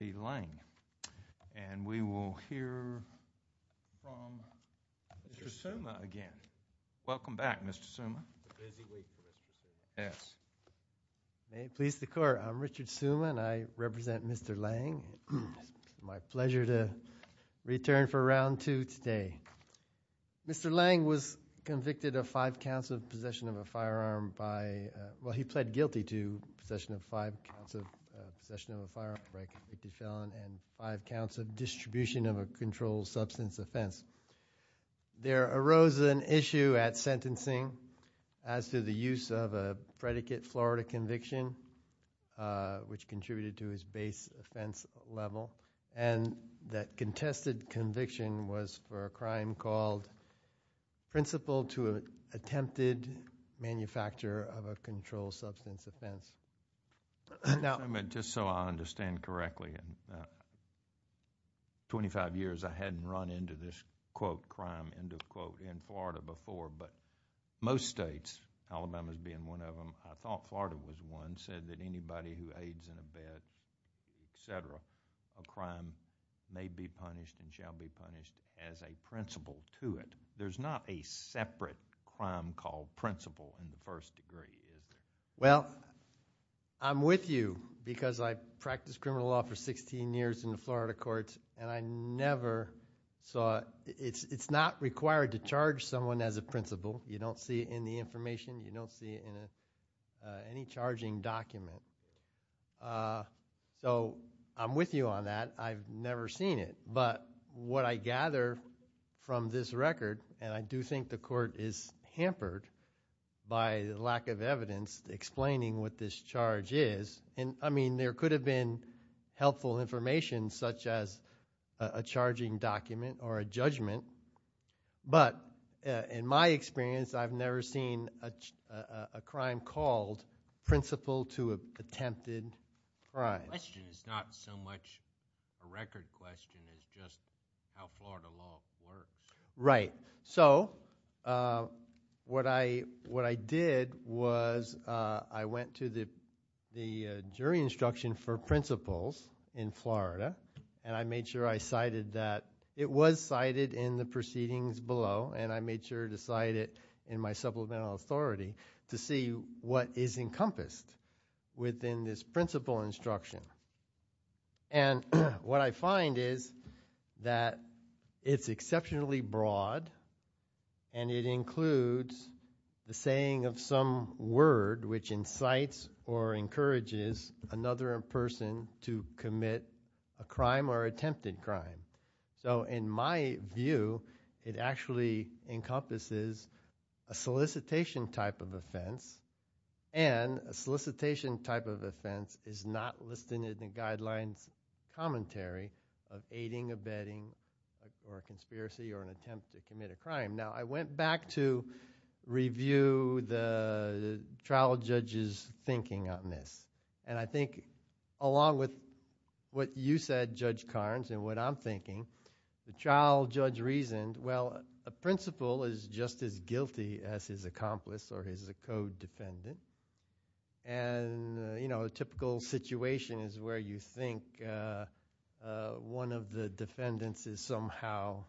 and we will hear from Mr. Suma again. Welcome back, Mr. Suma. May it please the court, I'm Richard Suma and I represent Mr. Lange. It's my pleasure to return for round two today. Mr. Lange was convicted of five counts of possession of a firearm by convicted felon and five counts of distribution of a controlled substance offense. There arose an issue at sentencing as to the use of a predicate Florida conviction which contributed to his base offense level and that contested conviction was for a crime called principle to attempted manufacture of a controlled substance offense. Just so I understand correctly, in 25 years I hadn't run into this quote crime end of quote in Florida before but most states, Alabama being one of them, I thought Florida was one, said that anybody who aids in a bed, et cetera, a crime may be punished and shall be punished as a principle to it. There's not a separate crime called principle in the first degree, is there? Well, I'm with you because I practiced criminal law for 16 years in the Florida courts and I never saw, it's not required to charge someone as a principle. You don't see it in the information. You don't see it in any charging document. So I'm with you on that. I've never seen it but what I gather from this record and I do think the court is hampered by lack of evidence explaining what this charge is and I mean there could have been helpful information such as a charging document or a judgment but in my experience I've never seen a crime called principle to attempted crime. The question is not so much a record question, it's just how Florida law works. Right. So what I did was I went to the jury instruction for principles in Florida and I made sure I cited that. It was cited in the proceedings below and I made sure to cite it in my supplemental authority to see what is encompassed within this principle instruction. And what I find is that it's exceptionally broad and it includes the saying of some word which incites or encourages another person to commit a crime or attempted crime. So in my view it actually encompasses a solicitation type of offense and a solicitation type of offense is not listed in the guidelines commentary of aiding, abetting or conspiracy or an attempt to commit a crime. Now I went back to review the trial judge's thinking on this and I think along with what you said Judge Carnes and what I'm thinking, the trial judge reasoned well a principle is just as guilty as his accomplice or his co-defendant and you know a typical situation is where you think one of the defendants is somehow,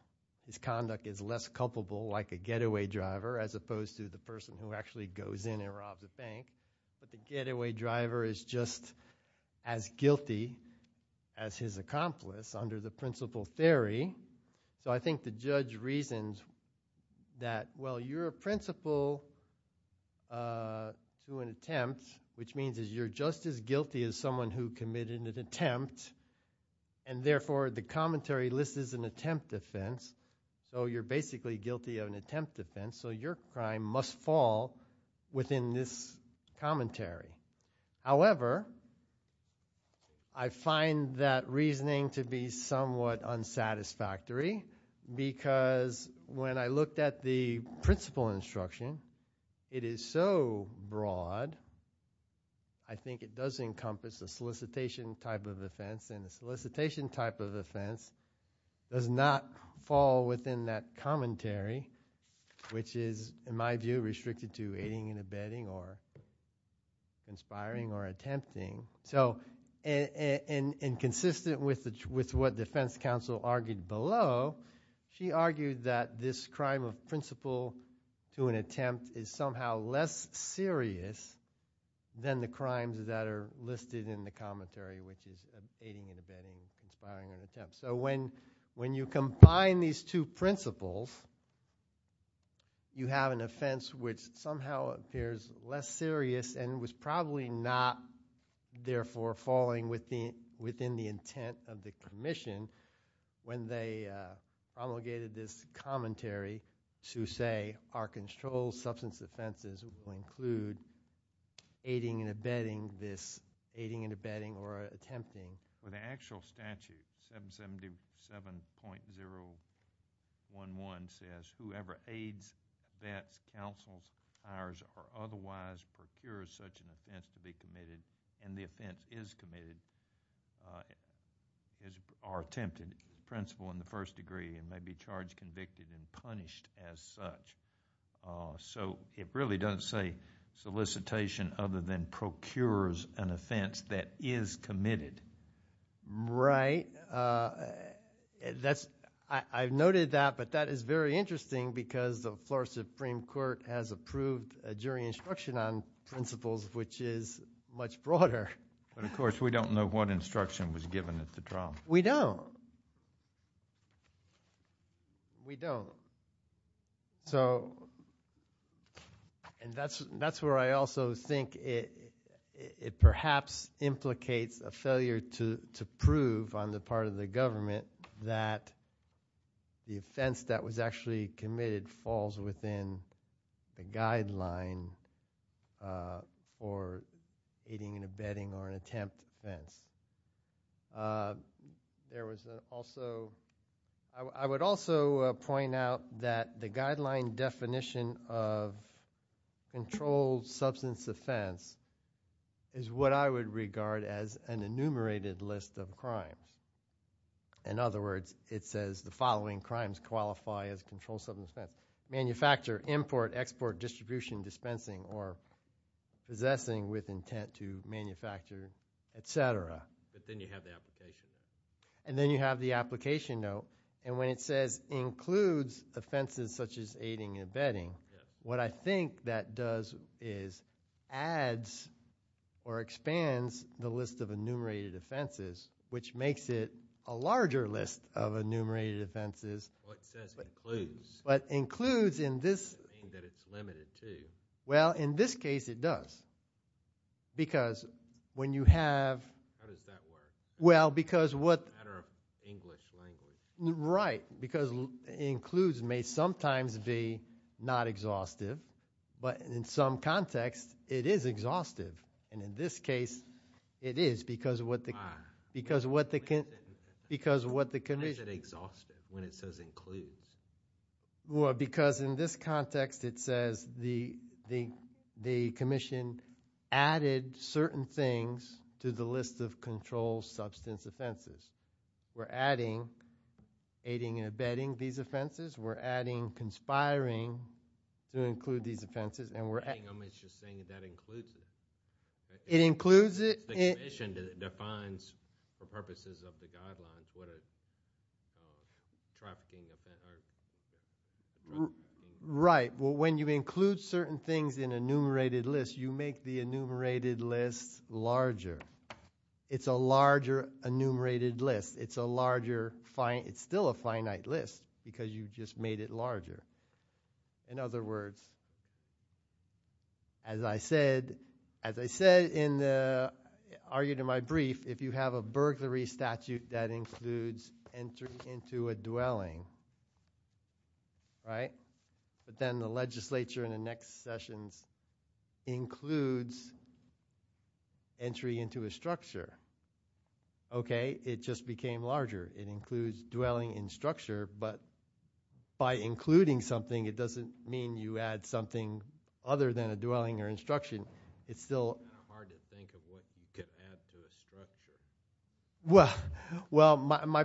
his conduct is less culpable like a getaway driver as opposed to the person who actually goes in and robs a bank but the getaway driver is just as guilty as his accomplice under the principle theory. So I think the judge reasoned that well you're a principle to an attempt which means that you're just as guilty as someone who committed an attempt and therefore the commentary list is an attempt offense so you're basically guilty of an attempt offense so your crime must fall within this commentary. However, I find that reasoning to be somewhat unsatisfactory because when I looked at the principle instruction it is so broad I think it does encompass a solicitation type of offense and a solicitation type of offense does not fall within that commentary which is in my view restricted to aiding and abetting or conspiring or attempting. So in consistent with what defense counsel argued below, she argued that this crime of principle to an attempt is somehow less serious than the crimes that are listed in the commentary which is aiding and abetting, conspiring and attempt. So when you combine these two principles you have an offense which somehow appears less serious and was probably not therefore falling within the intent of the commission when they promulgated this commentary to say our controlled substance offenses will include aiding and abetting this, aiding and abetting For the actual statute 777.011 says whoever aids, vets, counsels, hires or otherwise procures such an offense to be committed and the offense is committed or attempted principle in the first degree and may be charged, convicted and punished as such. So it really doesn't say solicitation other than procures an offense that is committed. Right. I've noted that but that is very interesting because the Florida Supreme Court has approved a jury instruction on principles which is much broader. But of course we don't know what instruction was given at the trial. We don't. We don't. So and that's where I also think it perhaps implicates a failure to prove on the part of the government that the offense that was actually committed falls within the guideline for aiding and abetting or an attempt offense. There was also, I would also point out that the guideline definition of controlled substance offense is what I would regard as an enumerated list of crimes. In other words, it says the manufacturer, import, export, distribution, dispensing or possessing with intent to manufacture, etc. But then you have the application. And then you have the application note and when it says includes offenses such as aiding and abetting, what I think that does is adds or expands the list of enumerated offenses which makes it a larger list of enumerated offenses. Well, it says includes. But includes in this. Meaning that it's limited to. Well, in this case it does. Because when you have. How does that work? Well, because what. It's a matter of English language. Right. Because includes may sometimes be not exhaustive. But in some context, it is exhaustive. And in this case, it is because of what the. Why? Because of what the condition. Why is it exhaustive when it says includes? Well, because in this context, it says the commission added certain things to the list of control substance offenses. We're adding aiding and abetting these offenses. We're adding conspiring to include these offenses. And we're adding. I'm just saying that that includes it. It includes it. It's the commission that defines for purposes of the guidelines what a trafficking. Right. Well, when you include certain things in enumerated lists, you make the enumerated list larger. It's a larger enumerated list. It's a larger fine. It's still a finite list because you've just made it larger. In other words. As I said, as I said in the argued in my brief, if you have a burglary statute that includes entry into a dwelling. Right. But then the legislature in the next sessions includes. Entry into a structure. OK. It just became larger. It includes dwelling in structure. But. By including something, it doesn't mean you add something other than a dwelling or instruction. It's still hard to think of what you can add to the structure. Well, well, my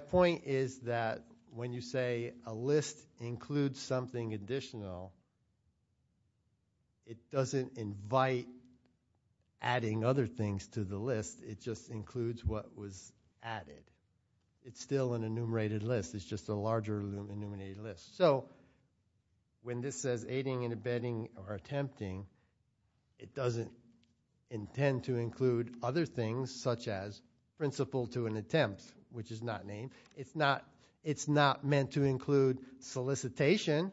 point is that when you say a list includes something additional. It doesn't invite. Adding other things to the list. It just includes what was added. It's still an enumerated list. It's just a larger enumerated list. So. When this says aiding and abetting or attempting. It doesn't intend to include other things such as principle to an attempt, which is not named. It's not. It's not meant to include solicitation.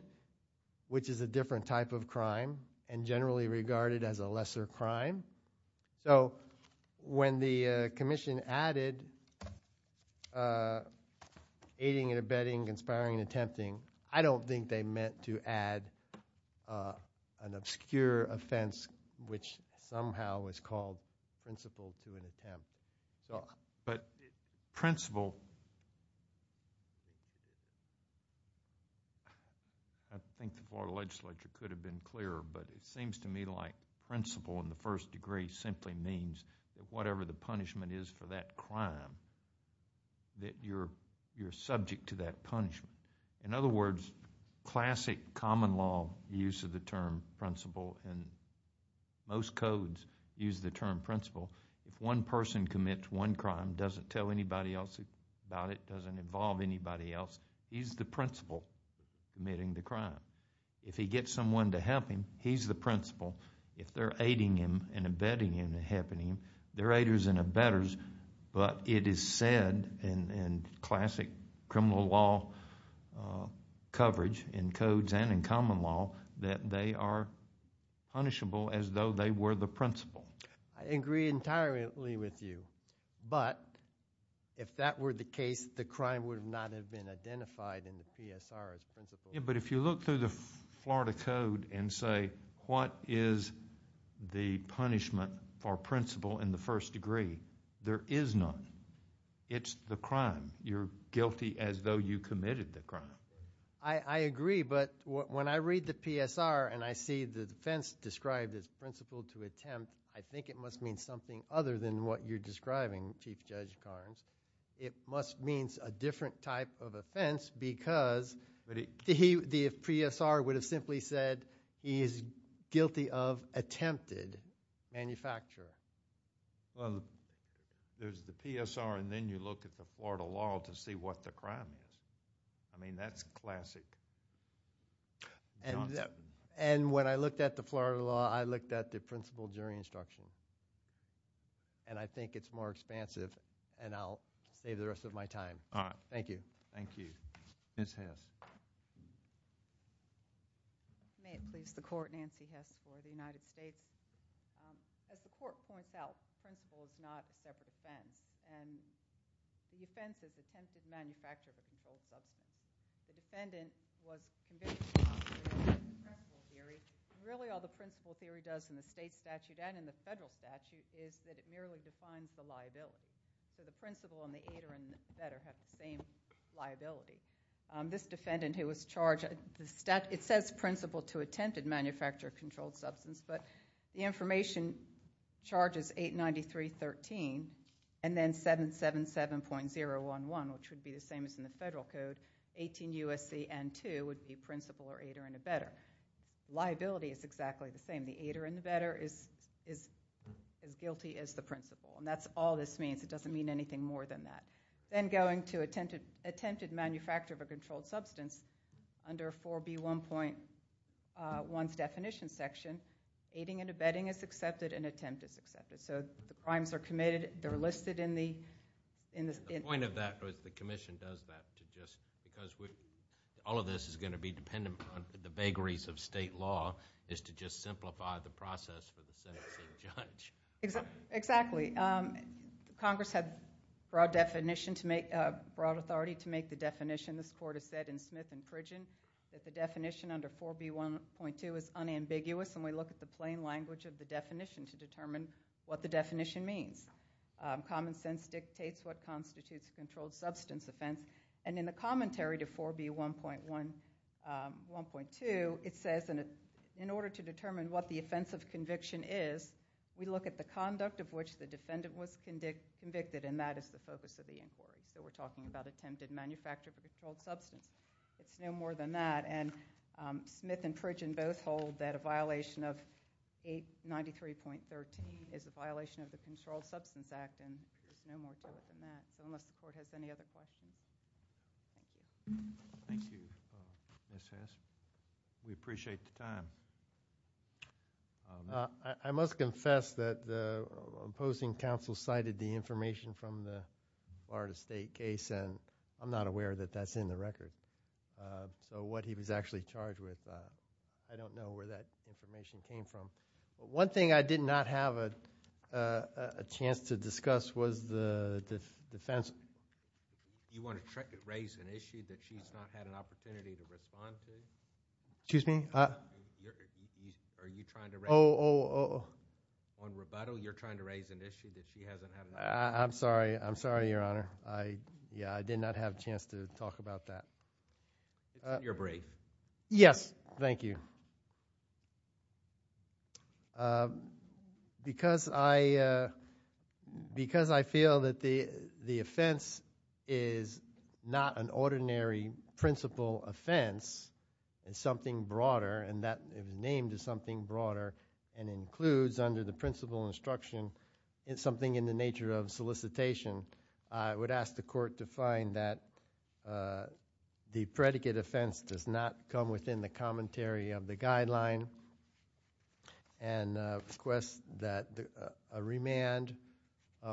Which is a different type of crime and generally regarded as a lesser crime. So when the commission added aiding and abetting, conspiring and attempting. I don't think they meant to add an obscure offense, which somehow is called principle to an attempt. But principle. I think the floor of the legislature could have been clearer. But it seems to me like principle in the first degree simply means that whatever the punishment is for that crime. That you're subject to that punishment. In other words, classic common law use of the term principle. And most codes use the term principle. If one person commits one crime. Doesn't tell anybody else about it. Doesn't involve anybody else. He's the principle committing the crime. If he gets someone to help him, he's the principle. If they're aiding him and abetting him and helping him. They're aiders and abetters. But it is said in classic criminal law coverage. In codes and in common law. That they are punishable as though they were the principle. I agree entirely with you. But if that were the case, the crime would not have been identified in the PSR as principle. But if you look through the Florida Code and say what is the punishment for principle in the first degree. There is none. It's the crime. You're guilty as though you committed the crime. I agree. But when I read the PSR and I see the defense described as principle to attempt. I think it must mean something other than what you're describing, Chief Judge Carnes. It must mean a different type of offense. Because the PSR would have simply said he is guilty of attempted manufacturing. There's the PSR and then you look at the Florida law to see what the crime is. I mean, that's classic. And when I looked at the Florida law, I looked at the principle during instruction. And I think it's more expansive. And I'll save the rest of my time. All right. Thank you. Thank you. Ms. Hess. May it please the Court, Nancy Hess for the United States. As the Court points out, principle is not a separate offense. And the offense is attempted manufacture of a controlled substance. The defendant was convicted of the principle theory. Really all the principle theory does in the state statute and in the federal statute is that it merely defines the liability. So the principle and the ADER and the SEDER have the same liability. This defendant who was charged, it says principle to attempted manufacture of controlled substance. But the information charges 893.13 and then 777.011, which would be the same as in the federal code, 18 U.S.C.N. 2, would be principle or ADER and the SEDER. Liability is exactly the same. The ADER and the SEDER is as guilty as the principle. And that's all this means. It doesn't mean anything more than that. Then going to attempted manufacture of a controlled substance under 4B1.1's definition section, aiding and abetting is accepted and attempt is accepted. So the crimes are committed. They're listed in the... The point of that is the commission does that to just... because all of this is going to be dependent on the vagaries of state law is to just simplify the process for the sentencing judge. Exactly. Congress had broad definition to make... broad authority to make the definition. This court has said in Smith and Fridgen that the definition under 4B1.2 is unambiguous and we look at the plain language of the definition to determine what the definition means. Common sense dictates what constitutes a controlled substance offense. And in the commentary to 4B1.1... 1.2, it says in order to determine what the offense of conviction is, we look at the conduct of which the defendant was convicted, and that is the focus of the inquiry. So we're talking about attempted manufacture of a controlled substance. It's no more than that. And Smith and Fridgen both hold that a violation of 893.13 is a violation of the Controlled Substance Act, and there's no more to it than that, unless the court has any other questions. Thank you, Ms. Hess. We appreciate the time. I must confess that the opposing counsel cited the information from the Florida State case, and I'm not aware that that's in the record. So what he was actually charged with, I don't know where that information came from. One thing I did not have a chance to discuss was the defense... Do you want to raise an issue that she's not had an opportunity to respond to? Excuse me? Are you trying to raise... Oh, oh, oh, oh. On rebuttal, you're trying to raise an issue that she hasn't had an opportunity... I'm sorry. I'm sorry, Your Honor. Yeah, I did not have a chance to talk about that. You're brave. Yes, thank you. Because I feel that the offense is not an ordinary principal offense, it's something broader, and that it was named as something broader, and includes under the principal instruction something in the nature of solicitation, I would ask the court to find that the predicate offense does not come within the commentary of the guideline, and request that a remand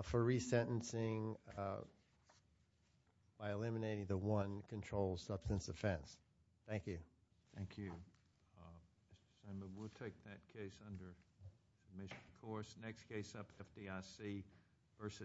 for resentencing by eliminating the one controlled substance offense. Thank you. Thank you. Next case up, FDIC v. Amos.